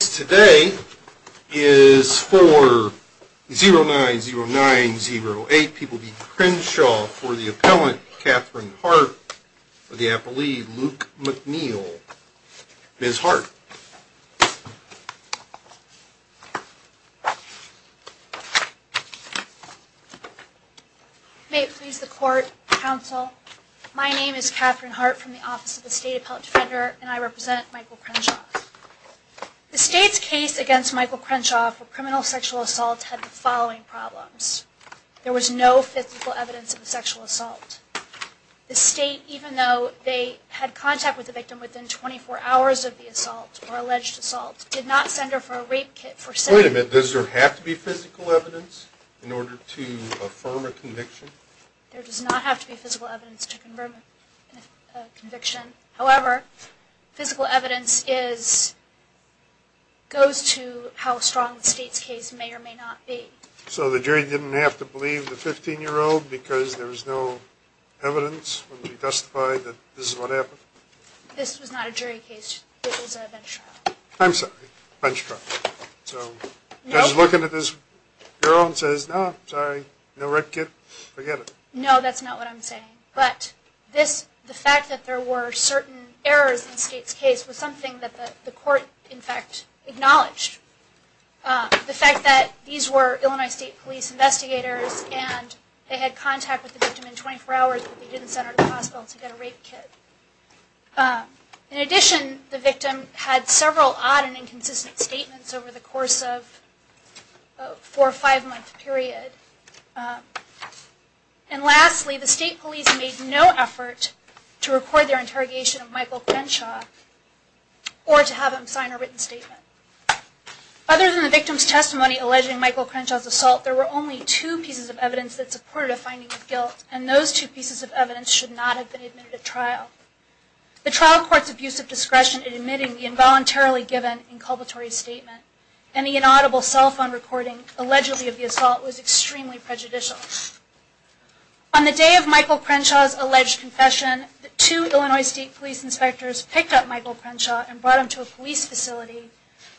Today is for 090908, people be Crenshaw for the appellant Catherine Hart for the appellee Luke McNeil. Ms. Hart. May it please the court, counsel, my name is Catherine Hart from the Office of the State Appellant Defender and I represent Michael Crenshaw. The state's case against Michael Crenshaw for criminal sexual assault had the following problems. There was no physical evidence of a sexual assault. The state, even though they had contact with the victim within 24 hours of the assault or alleged assault, did not send her for a rape kit. Wait a minute, does there have to be physical evidence in order to affirm a conviction? There does not have to be physical evidence to confirm a conviction. The evidence is, goes to how strong the state's case may or may not be. So the jury didn't have to believe the 15 year old because there was no evidence to testify that this is what happened? This was not a jury case. This was a bench trial. I'm sorry, a bench trial. Judge is looking at this girl and says, no, sorry, no rape kit, forget it. No, that's not what I'm saying. But this, the fact that there were certain errors in the state's case was something that the court, in fact, acknowledged. The fact that these were Illinois State Police investigators and they had contact with the victim in 24 hours, but they didn't send her to the hospital to get a rape kit. In addition, the victim had several odd and inconsistent statements over the course of a four or five month period. And lastly, the state police made no effort to record their interrogation of Michael Crenshaw or to have him sign a written statement. Other than the victim's testimony alleging Michael Crenshaw's assault, there were only two pieces of evidence that supported a finding of guilt and those two pieces of evidence should not have been admitted at trial. The trial court's abuse of discretion in admitting the involuntarily given inculpatory statement and the inaudible cell phone recording allegedly of the assault was extremely prejudicial. On the day of Michael Crenshaw's alleged confession, the two Illinois State Police inspectors picked up Michael Crenshaw and brought him to a police facility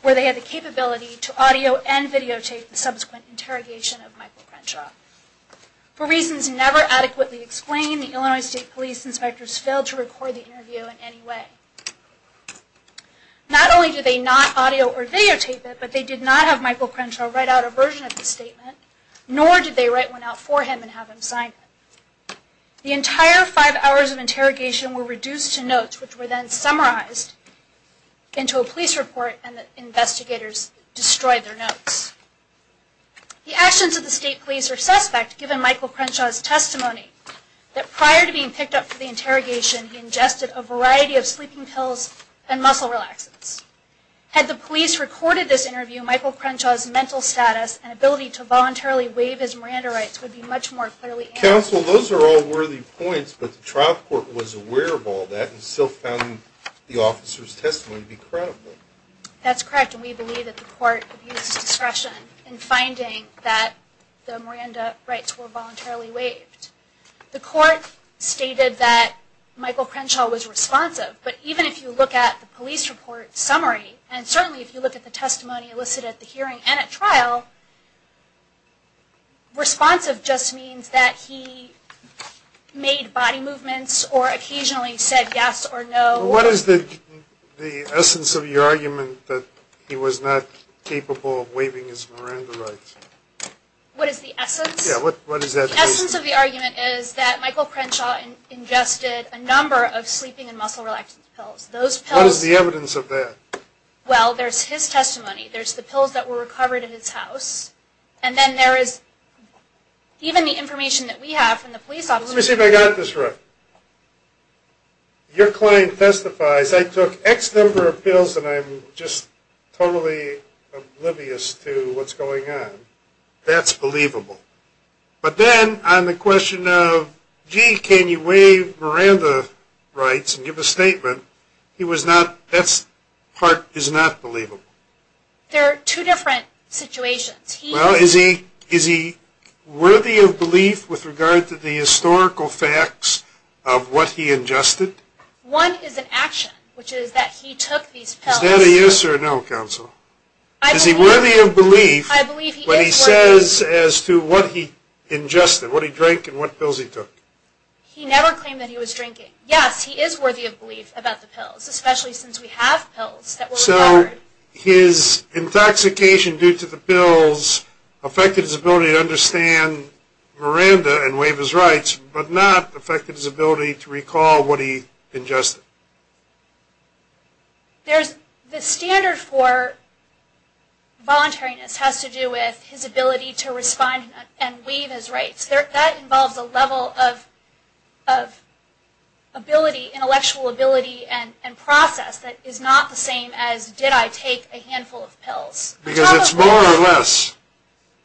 where they had the capability to audio and videotape the subsequent interrogation of Michael Crenshaw. For reasons never adequately explained, the Illinois State Police inspectors failed to record the interview in any way. Not only did they not audio or write out a version of the statement, nor did they write one out for him and have him sign it. The entire five hours of interrogation were reduced to notes which were then summarized into a police report and the investigators destroyed their notes. The actions of the state police are suspect given Michael Crenshaw's testimony that prior to being picked up for the interrogation, he ingested a variety of sleeping pills and muscle relaxants. Had the police recorded this interview, Michael Crenshaw's mental status and ability to voluntarily waive his Miranda rights would be much more clearly analyzed. Counsel, those are all worthy points, but the trial court was aware of all that and still found the officer's testimony to be credible. That's correct and we believe that the court abused its discretion in finding that the Miranda rights were voluntarily waived. The court stated that Michael Crenshaw was responsive, but even if you look at the police report summary and certainly if you look at the hearing and at trial, responsive just means that he made body movements or occasionally said yes or no. What is the essence of your argument that he was not capable of waiving his Miranda rights? What is the essence? What is that? The essence of the argument is that Michael Crenshaw ingested a number of sleeping and muscle relaxant pills. What is the evidence of that? Well, there's his testimony, there's the pills that were recovered at his house, and then there is even the information that we have from the police officer. Let me see if I got this right. Your client testifies, I took X number of pills and I'm just totally oblivious to what's going on. That's believable. But then on the question of, gee, can you waive Miranda rights and give a statement, he was not, that part is not believable. There are two different situations. Well, is he worthy of belief with regard to the historical facts of what he ingested? One is an action, which is that he took these pills. Is that a yes or a no, counsel? Is he worthy of belief when he says as to what he ingested, what he drank and what pills he took? He never claimed that he was drinking. Yes, he is worthy of belief about the pills, especially since we have pills that were recovered. So his intoxication due to the pills affected his ability to understand Miranda and waive his rights, but not affected his ability to recall what he ingested? There's, the standard for voluntariness has to do with his ability to respond and waive his rights. That involves a level of ability, intellectual ability and process that is not the same as, did I take a handful of pills? Because it's more or less.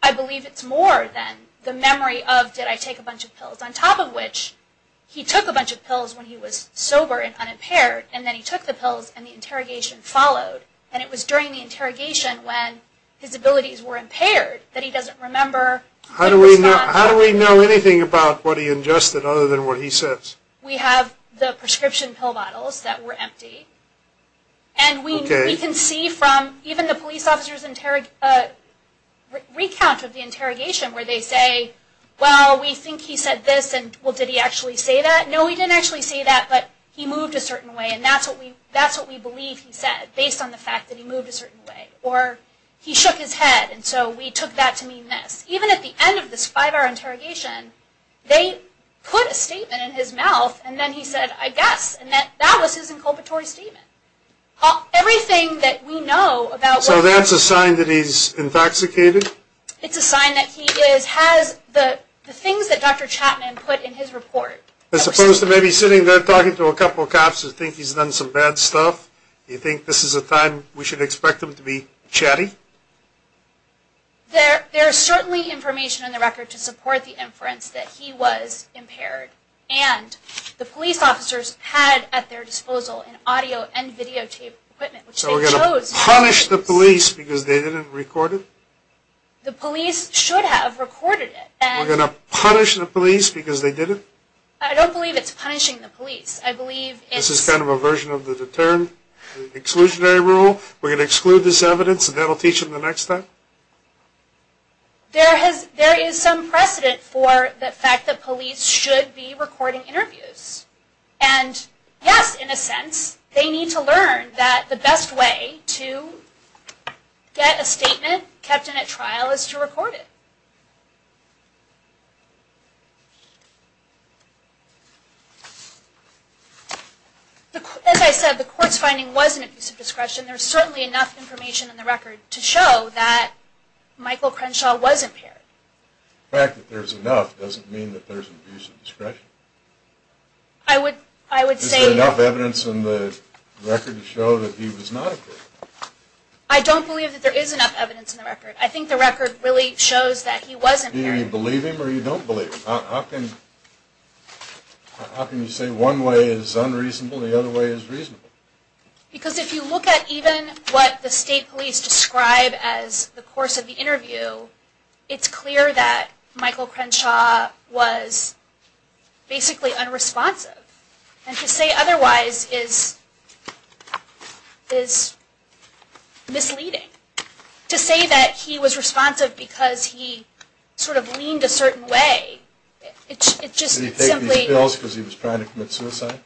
I believe it's more than the memory of, did I take a bunch of pills? On top of which, he took a bunch of pills when he was sober and unimpaired, and then he took the pills and the interrogation followed. And it was during the interrogation when his abilities were impaired, that he doesn't remember. How do we know anything about what he ingested other than what he says? We have the prescription pill bottles that were empty. And we can see from even the police officers' recount of the interrogation where they say, well, we think he said this, and well, did he actually say that? No, he didn't actually say that, but he moved a certain way. And that's what we believe he said, based on the fact that he moved a certain way. Or he shook his head, and so we took that to mean this. Even at the end of this five-hour interrogation, they put a statement in his mouth, and then he said, I guess, and that was his inculpatory statement. Everything that we know about what... So that's a sign that he's intoxicated? It's a sign that he is, has the things that Dr. Chapman put in his report. As opposed to maybe sitting there talking to a couple of cops who think he's done some bad stuff? You think this is a time we should expect him to be chatting? There is certainly information in the record to support the inference that he was impaired. And the police officers had at their disposal an audio and videotape equipment. So we're going to punish the police because they didn't record it? The police should have recorded it. We're going to punish the police because they didn't? I don't believe it's punishing the police. This is kind of a version of the deterred exclusionary rule? We're going to exclude this evidence and that will teach them the next step? There is some precedent for the fact that police should be recording interviews. And yes, in a sense, they need to learn that the best way to get a statement kept in a trial is to record it. As I said, the court's finding wasn't abuse of discretion. There's certainly enough information in the record to show that Michael Crenshaw was impaired. The fact that there's enough doesn't mean that there's abuse of discretion? Is there enough evidence in the record to show that he was not impaired? I don't believe that there is enough evidence in the record. I think the record really shows that he wasn't impaired. Do you believe him or you don't believe him? How can you say one way is unreasonable and the other way is reasonable? Because if you look at even what the state police describe as the course of the interview, it's clear that Michael Crenshaw was basically unresponsive. And to say otherwise is misleading. To say that he was responsive because he sort of leaned a certain way, it's just simply... Did he take these pills because he was trying to commit suicide?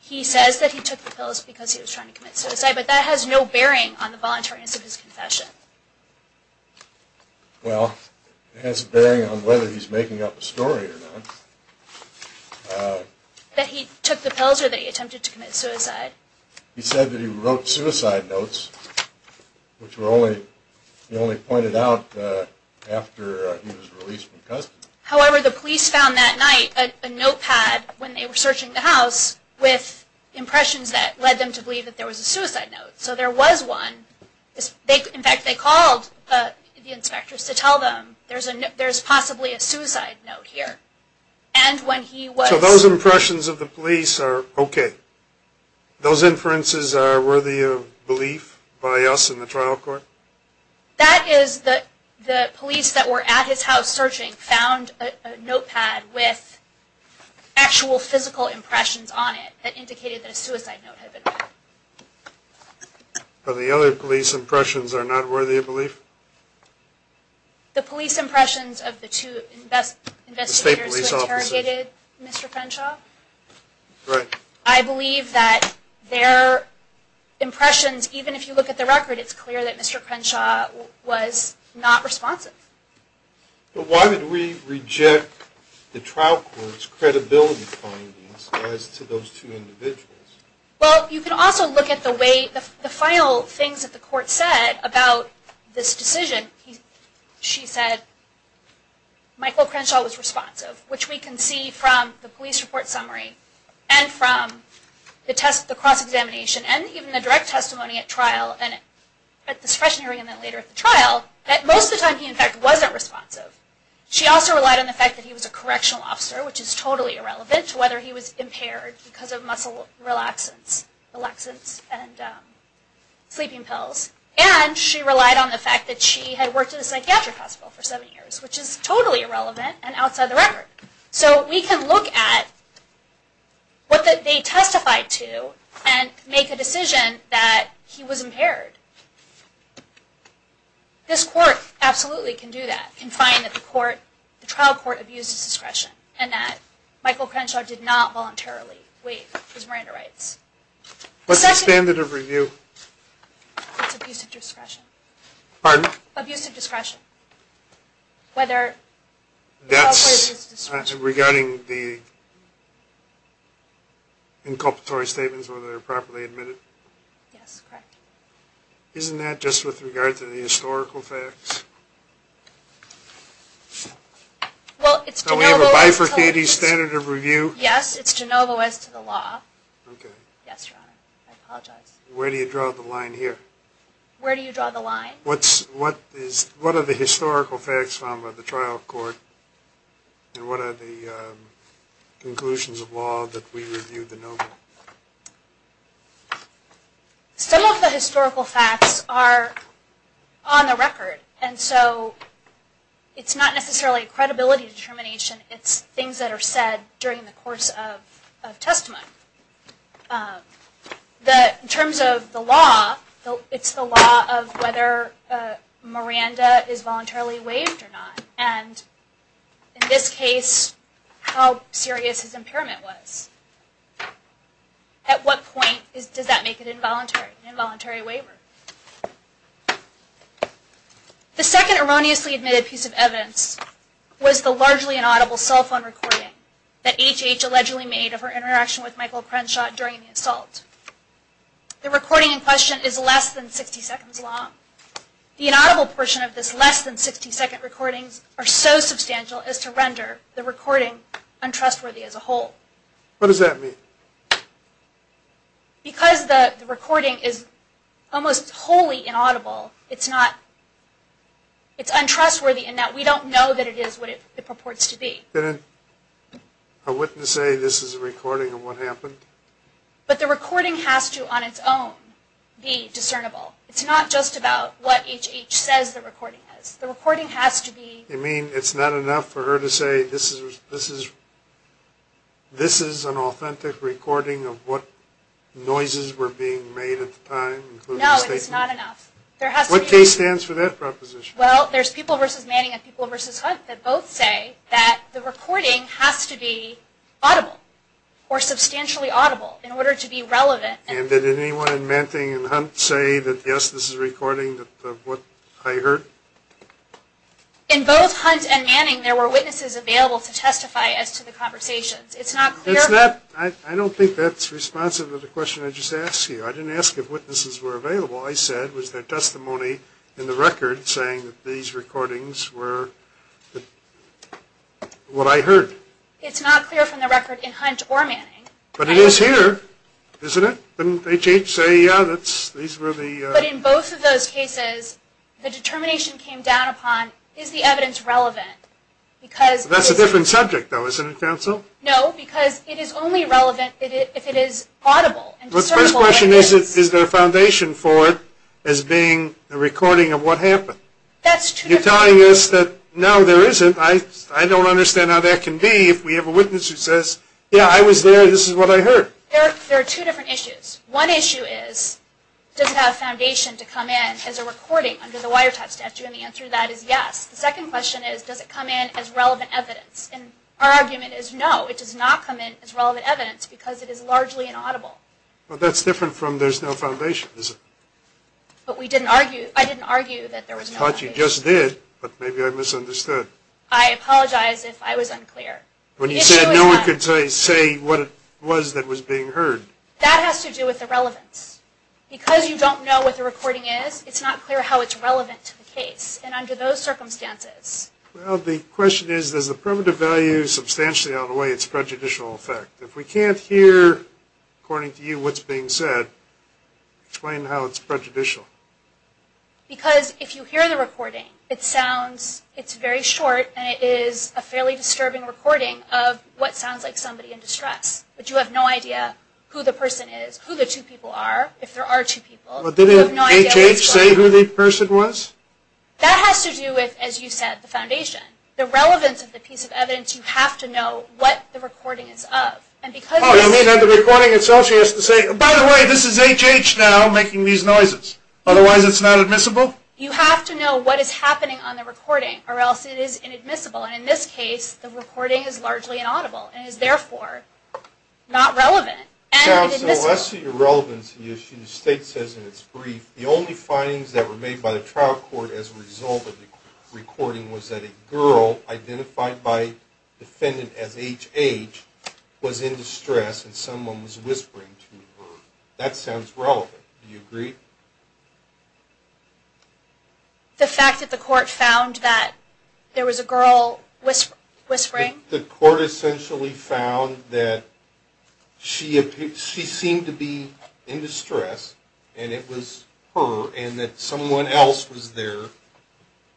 He says that he took the pills because he was trying to commit suicide, but that has no bearing on the voluntariness of his confession. Well, it has a bearing on whether he's making up a story or not. That he took the pills or that he attempted to commit suicide. He said that he wrote suicide notes, which he only pointed out after he was released from custody. However, the police found that night a notepad when they were searching the house with impressions that led them to believe that there was a suicide note. So there was one. In fact, they called the inspectors to tell them there's possibly a suicide note here. And when he was... So those impressions of the police are okay? Those inferences are worthy of belief by us in the trial court? That is that the police that were at his house searching found a notepad with actual physical impressions on it that indicated that a suicide note had been found. But the other police impressions are not worthy of belief? The police impressions of the two investigators who interrogated Mr. Crenshaw? Right. I believe that their impressions, even if you look at the record, it's clear that Mr. Crenshaw was not responsive. But why did we reject the trial court's credibility findings as to those two individuals? Well, you can also look at the way... the final things that the court said about this decision. She said Michael Crenshaw was responsive, which we can see from the police report summary and from the cross-examination and even the direct testimony at trial, at the discretionary and then later at the trial, that most of the time he, in fact, wasn't responsive. She also relied on the fact that he was a correctional officer, which is totally irrelevant to whether he was impaired because of muscle relaxants, relaxants and sleeping pills. And she relied on the fact that she had worked at a psychiatric hospital for seven years, which is totally irrelevant and outside the record. So we can look at what they testified to and make a decision that he was impaired. This court absolutely can do that, can find that the trial court abused his discretion and that Michael Crenshaw did not voluntarily waive his Miranda rights. What's the standard of review? It's abuse of discretion. Pardon? Abuse of discretion. Whether... That's regarding the inculpatory statements, whether they're properly admitted. Yes, correct. Isn't that just with regard to the historical facts? So we have a bifurcated standard of review? Yes, it's de novo as to the law. Okay. Yes, Ron, I apologize. Where do you draw the line here? Where do you draw the line? What are the historical facts found by the trial court and what are the conclusions of law that we review de novo? Some of the historical facts are on the record and so it's not necessarily credibility determination, it's things that are said during the course of testimony. In terms of the law, it's the law of whether Miranda is voluntarily waived or not and in this case, how serious his impairment was. At what point does that make it involuntary, an involuntary waiver? The second erroneously admitted piece of evidence was the largely inaudible cell phone recording that HH allegedly made of her interaction with Michael Crenshaw during the assault. The recording in question is less than 60 seconds long. The inaudible portion of this less than 60 second recording are so substantial as to render the recording untrustworthy as a whole. What does that mean? Because the recording is almost wholly inaudible, it's not, it's untrustworthy in that we don't know that it is what it purports to be. A witness say this is a recording of what happened? But the recording has to, on its own, be discernible. It's not just about what HH says the recording is. The recording has to be... You mean it's not enough for her to say this is an authentic recording of what noises were being made at the time? No, it's not enough. What case stands for that proposition? Well, there's people versus Manning and people versus Hunt that both say that the recording has to be audible or substantially audible in order to be relevant. And did anyone in Manning and Hunt say that yes, this is a recording of what I heard? In both Hunt and Manning, there were witnesses available to testify as to the conversations. It's not clear... I don't think that's responsive to the question I just asked you. I didn't ask if witnesses were available. I said was there testimony in the record saying that these recordings were what I heard? It's not clear from the record in Hunt or Manning. But it is here, isn't it? Didn't HH say, yeah, these were the... But in both of those cases, the determination came down upon is the evidence relevant? That's a different subject, though, isn't it, counsel? No, because it is only relevant if it is audible. The first question is, is there a foundation for it as being a recording of what happened? You're telling us that, no, there isn't. I don't understand how that can be if we have a witness who says, yeah, I was there. This is what I heard. There are two different issues. One issue is, does it have a foundation to come in as a recording under the wiretap statute? And the answer to that is yes. The second question is, does it come in as relevant evidence? And our argument is no, it does not come in as relevant evidence because it is largely inaudible. Well, that's different from there's no foundation, isn't it? But we didn't argue, I didn't argue that there was no foundation. I thought you just did, but maybe I misunderstood. I apologize if I was unclear. When you said no one could say what it was that was being heard. That has to do with the relevance. Because you don't know what the recording is, it's not clear how it's relevant to the case. And under those circumstances. Well, the question is, does the primitive value substantially outweigh its prejudicial effect? If we can't hear, according to you, what's being said, explain how it's prejudicial. Because if you hear the recording, it sounds, it's very short, and it is a fairly disturbing recording of what sounds like somebody in distress. But you have no idea who the person is, who the two people are, if there are two people. But didn't HH say who the person was? That has to do with, as you said, the foundation. The relevance of the piece of evidence, you have to know what the recording is of. Oh, you mean the recording itself has to say, by the way, this is HH now making these noises. Otherwise it's not admissible? You have to know what is happening on the recording, or else it is inadmissible. And in this case, the recording is largely inaudible. It is, therefore, not relevant. So as to your relevance issue, the state says in its brief, the only findings that were made by the trial court as a result of the recording was that a girl identified by the defendant as HH was in distress, and someone was whispering to her. That sounds relevant. Do you agree? The fact that the court found that there was a girl whispering? The court essentially found that she seemed to be in distress, and it was her, and that someone else was there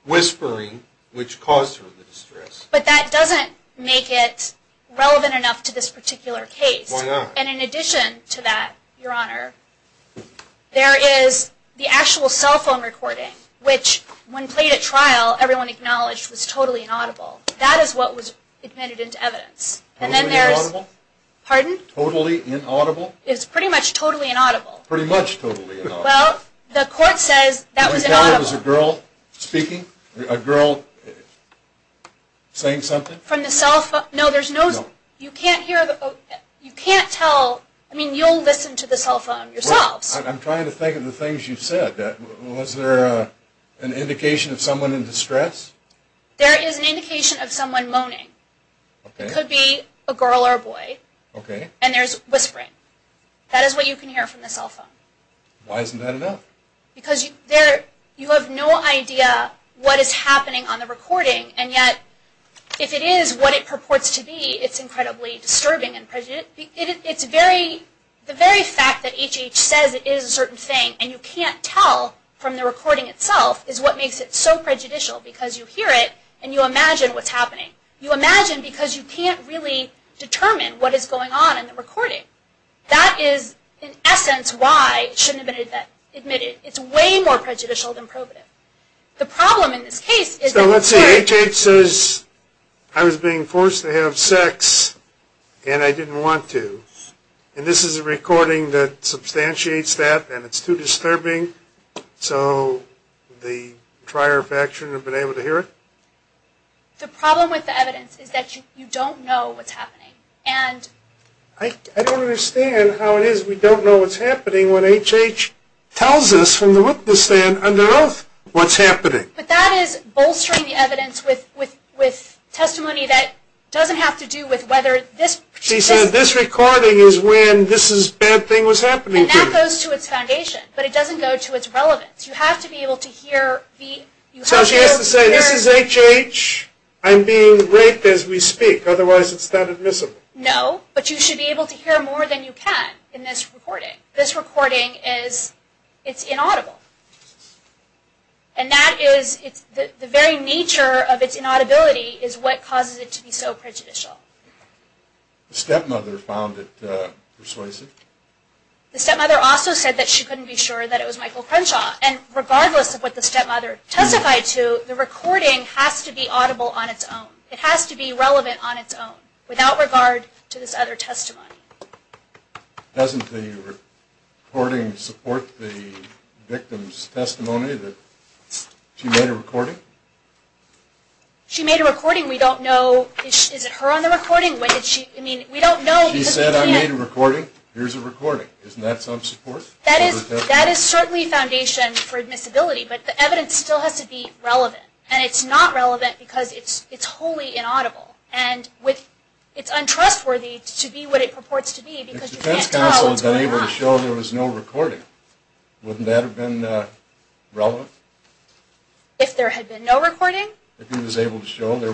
whispering, which caused her the distress. But that doesn't make it relevant enough to this particular case. Why not? And in addition to that, Your Honor, there is the actual cell phone recording, which when played at trial, everyone acknowledged was totally inaudible. That is what was admitted into evidence. Was it inaudible? Pardon? Totally inaudible? It was pretty much totally inaudible. Pretty much totally inaudible. Well, the court says that was inaudible. Was a girl speaking? A girl saying something? From the cell phone? No, there's no... You can't hear the... You can't tell... I mean, you'll listen to the cell phone yourselves. I'm trying to think of the things you said. Was there an indication of someone in distress? There is an indication of someone moaning. Okay. It could be a girl or a boy. Okay. And there's whispering. That is what you can hear from the cell phone. Why isn't that enough? Because you have no idea what is happening on the recording, and yet if it is what it purports to be, it's incredibly disturbing and prejudiced. It's very... The very fact that HH says it is a certain thing, and you can't tell from the recording itself, is what makes it so prejudicial because you hear it and you imagine what's happening. You imagine because you can't really determine what is going on in the recording. That is, in essence, why it shouldn't have been admitted. It's way more prejudicial than probative. The problem in this case is that... So let's say HH says, I was being forced to have sex and I didn't want to, and this is a recording that substantiates that and it's too disturbing, so the prior faction have been able to hear it? The problem with the evidence is that you don't know what's happening. And... I don't understand how it is we don't know what's happening when HH tells us from the witness stand under oath what's happening. But that is bolstering the evidence with testimony that doesn't have to do with whether this... It goes to its foundation, but it doesn't go to its relevance. You have to be able to hear the... So she has to say, this is HH, I'm being raped as we speak, otherwise it's not admissible. No, but you should be able to hear more than you can in this recording. This recording is, it's inaudible. And that is, the very nature of its inaudibility is what causes it to be so prejudicial. The stepmother found it persuasive. The stepmother also said that she couldn't be sure that it was Michael Crenshaw. And regardless of what the stepmother testified to, the recording has to be audible on its own. It has to be relevant on its own, without regard to this other testimony. Doesn't the recording support the victim's testimony that she made a recording? She made a recording, we don't know... Is it her on the recording? She said I made a recording, here's a recording. Isn't that some support? That is certainly foundation for admissibility, but the evidence still has to be relevant. And it's not relevant because it's wholly inaudible. And it's untrustworthy to be what it purports to be because you can't tell. If the defense counsel had been able to show there was no recording, wouldn't that have been relevant? If there had been no recording? If he was able to show there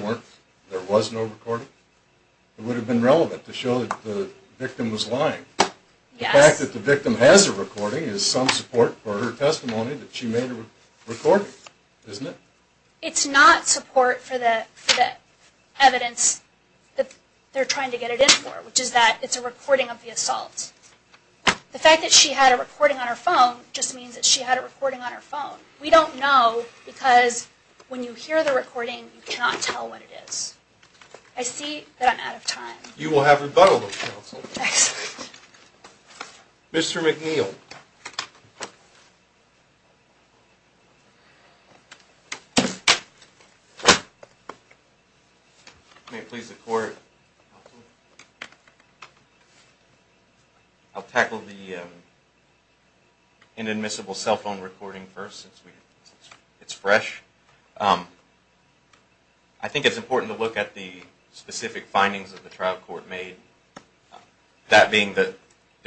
was no recording, it would have been relevant to show that the victim was lying. The fact that the victim has a recording is some support for her testimony that she made a recording, isn't it? It's not support for the evidence that they're trying to get it in for, which is that it's a recording of the assault. The fact that she had a recording on her phone just means that she had a recording on her phone. We don't know because when you hear the recording, you cannot tell what it is. I see that I'm out of time. You will have rebuttal, counsel. Excellent. Mr. McNeil. May it please the court. Counsel. I'll tackle the inadmissible cell phone recording first since it's fresh. I think it's important to look at the specific findings that the trial court made. That being that the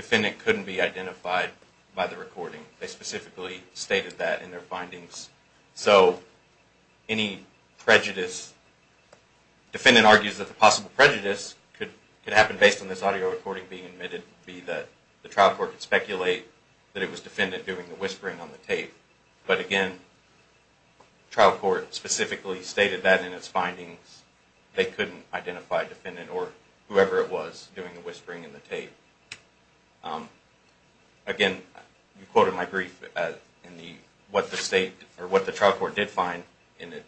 defendant couldn't be identified by the recording. They specifically stated that in their findings. So any prejudice, defendant argues that the possible prejudice could happen based on this audio recording being admitted, be that the trial court could speculate that it was defendant doing the whispering on the tape. But again, trial court specifically stated that in its findings. They couldn't identify defendant or whoever it was doing the whispering in the tape. Again, you quoted my brief in what the state or what the trial court did find in it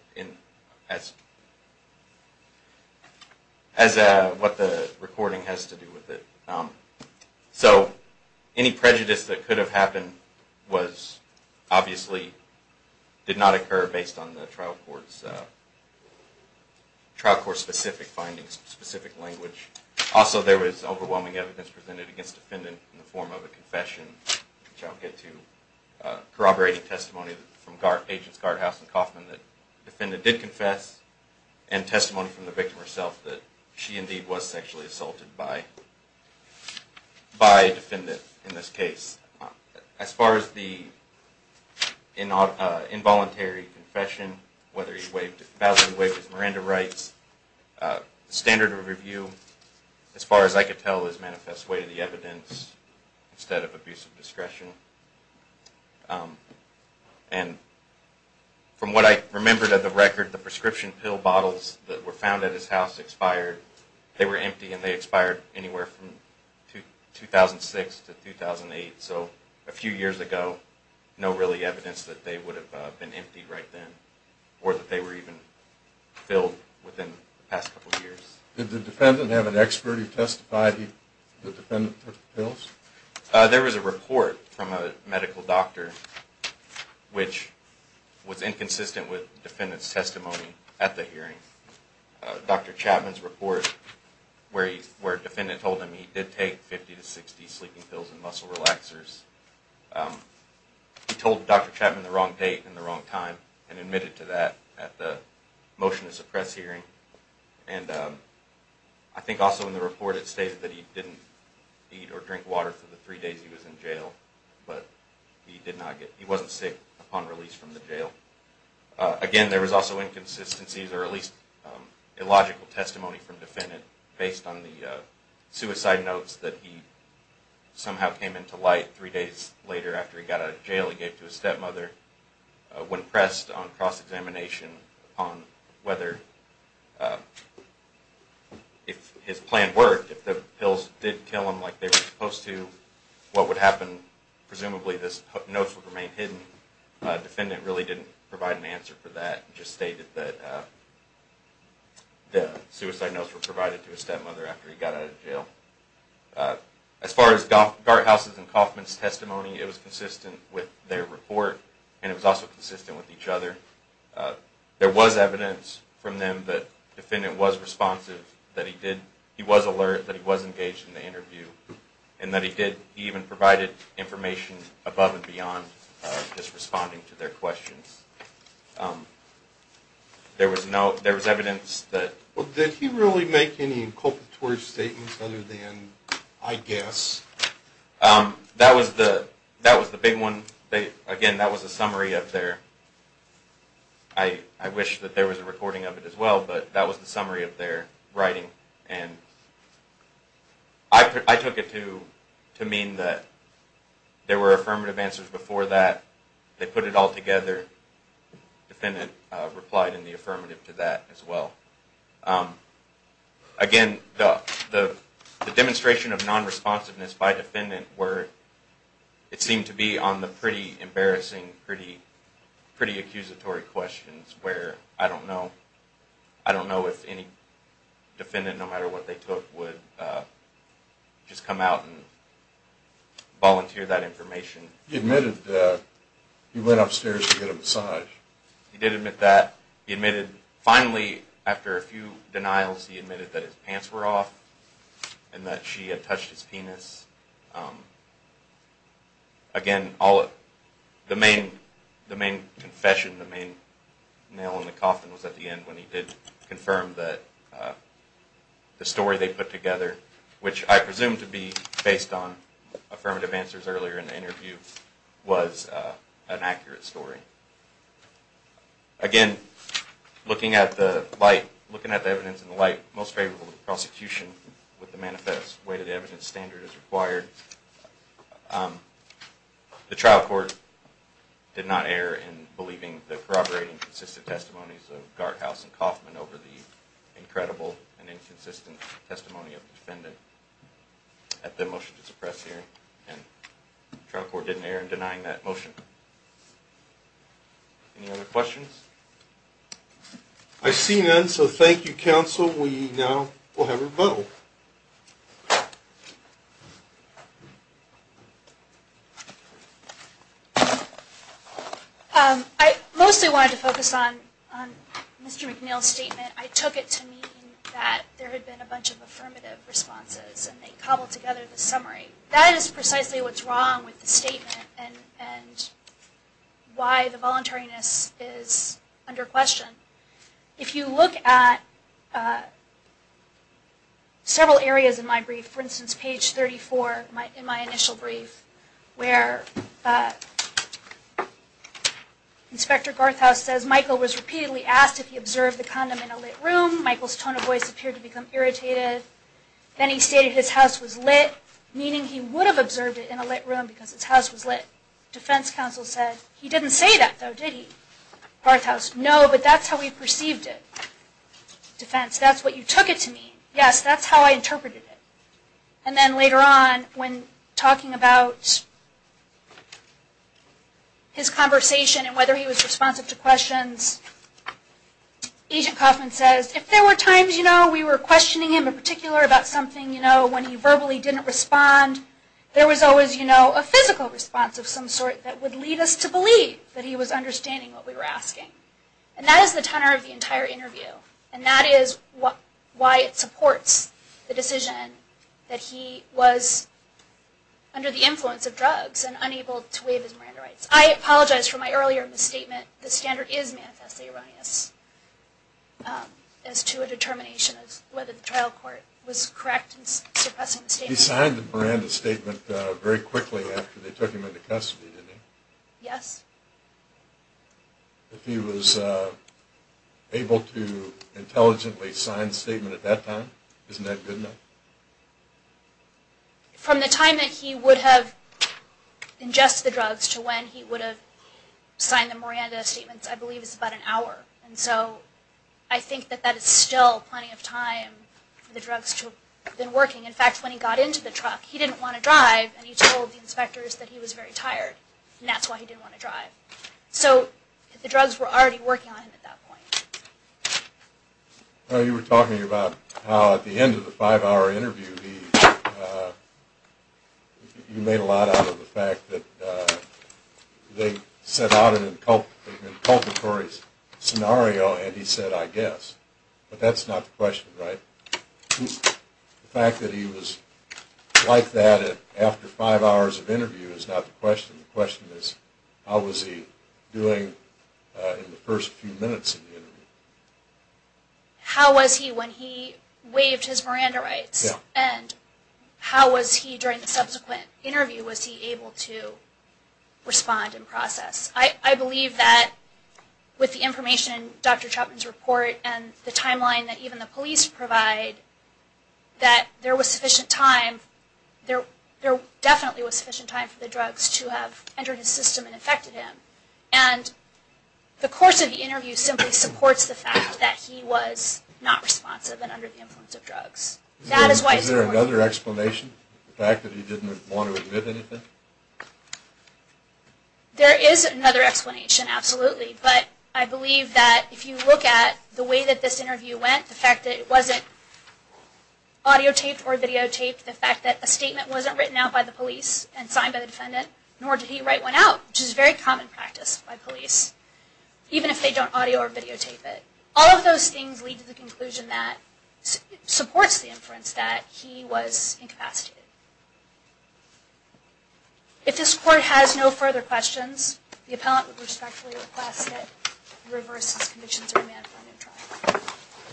as what the recording has to do with it. So any prejudice that could have happened was obviously did not occur based on the trial court's specific findings, specific language. Also, there was overwhelming evidence presented against defendant in the form of a confession, which I'll get to corroborating testimony from agents Gardhouse and Kaufman that defendant did confess and testimony from the victim herself that she indeed was sexually assaulted by defendant in this case. As far as the involuntary confession, whether he validly waived his Miranda rights, standard of review, as far as I could tell, is manifest way to the evidence instead of abuse of discretion. And from what I remembered of the record, the prescription pill bottles that were found at his house expired. They were empty and they expired anywhere from 2006 to 2008. So a few years ago, no really evidence that they would have been emptied right then or that they were even filled within the past couple of years. Did the defendant have an expert who testified that the defendant took the pills? There was a report from a medical doctor which was inconsistent with defendant's testimony at the hearing. Dr. Chapman's report where defendant told him he did take 50 to 60 sleeping pills and muscle relaxers, he told Dr. Chapman the wrong date and the wrong time and admitted to that at the motion to suppress hearing. And I think also in the report it stated that he didn't eat or drink water for the three days he was in jail, but he wasn't sick upon release from the jail. Again, there was also inconsistencies or at least illogical testimony from defendant based on the suicide notes that he somehow came into light three days later after he got out of jail. He gave it to his stepmother. When pressed on cross-examination on whether if his plan worked, if the pills did kill him like they were supposed to, what would happen, presumably these notes would remain hidden. Defendant really didn't provide an answer for that. He just stated that the suicide notes were provided to his stepmother after he got out of jail. As far as Garthaus and Kaufman's testimony, it was consistent with their report and it was also consistent with each other. There was evidence from them that defendant was responsive, that he was alert, that he was engaged in the interview, and that he even provided information above and beyond just responding to their questions. There was evidence that... Well, did he really make any inculpatory statements other than, I guess? That was the big one. Again, that was a summary of their... I wish that there was a recording of it as well, but that was the summary of their writing and I took it to mean that there were affirmative answers before that. They put it all together. Defendant replied in the affirmative to that as well. Again, the demonstration of non-responsiveness by defendant were... It seemed to be on the pretty embarrassing, pretty accusatory questions where I don't know if any defendant, no matter what they took, would just come out and volunteer that information. He admitted that he went upstairs to get a massage. He did admit that. Finally, after a few denials, he admitted that his pants were off and that she had touched his penis. Again, the main confession, the main nail in the coffin, was at the end when he did confirm that the story they put together, which I presume to be based on affirmative answers earlier in the interview, was an accurate story. Again, looking at the light, looking at the evidence in the light, I'm most favorable to prosecution with the way the evidence standard is required. The trial court did not err in believing the corroborating and consistent testimonies of Garthaus and Kaufman over the incredible and inconsistent testimony of the defendant at the motion to suppress hearing. The trial court didn't err in denying that motion. Any other questions? I see none, so thank you, counsel. We now will have a vote. I mostly wanted to focus on Mr. McNeil's statement. I took it to mean that there had been a bunch of affirmative responses, and they cobbled together the summary. That is precisely what's wrong with the statement and why the voluntariness is under question. If you look at several areas in my brief, for instance, page 34 in my initial brief, where Inspector Garthaus says, Michael was repeatedly asked if he observed the condom in a lit room. Michael's tone of voice appeared to become irritated. Then he stated his house was lit, meaning he would have observed it in a lit room because his house was lit. Defense counsel said, he didn't say that, though, did he? Garthaus, no, but that's how we perceived it. Defense, that's what you took it to mean. Yes, that's how I interpreted it. And then later on, when talking about his conversation and whether he was responsive to questions, Agent Kaufman says, if there were times, you know, we were questioning him in particular about something, you know, when he verbally didn't respond, there was always, you know, a physical response of some sort that would lead us to believe that he was understanding what we were asking. And that is the tenor of the entire interview. And that is why it supports the decision that he was under the influence of drugs and unable to waive his Miranda rights. I apologize for my earlier misstatement. The standard is manifestly erroneous as to a determination as to whether the trial court was correct in suppressing the statement. He signed the Miranda statement very quickly after they took him into custody, didn't he? Yes. If he was able to intelligently sign the statement at that time, isn't that good enough? From the time that he would have ingested the drugs to when he would have signed the Miranda statements, I believe it's about an hour. And so I think that that is still plenty of time for the drugs to have been working. In fact, when he got into the truck, he didn't want to drive, and he told the inspectors that he was very tired, and that's why he didn't want to drive. So the drugs were already working on him at that point. You were talking about how at the end of the five-hour interview, you made a lot out of the fact that they set out an inculpatory scenario, and he said, I guess. But that's not the question, right? The fact that he was like that after five hours of interview is not the question. The question is, how was he doing in the first few minutes of the interview? How was he when he waived his Miranda rights? And how was he during the subsequent interview, was he able to respond and process? I believe that with the information, Dr. Chapman's report, and the timeline that even the police provide, that there was sufficient time, there definitely was sufficient time for the drugs to have entered his system and affected him. And the course of the interview simply supports the fact that he was not responsive and under the influence of drugs. Is there another explanation, the fact that he didn't want to admit anything? There is another explanation, absolutely. But I believe that if you look at the way that this interview went, the fact that it wasn't audiotaped or videotaped, the fact that a statement wasn't written out by the police and signed by the defendant, nor did he write one out, which is a very common practice by police, even if they don't audio or videotape it, all of those things lead to the conclusion that it supports the inference that he was incapacitated. If this Court has no further questions, the appellant would respectfully request that he reverse his conviction to remand for a new trial.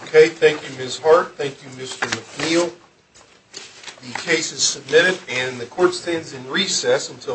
Okay, thank you Ms. Hart, thank you Mr. McNeil. The case is submitted and the Court stands in recess until...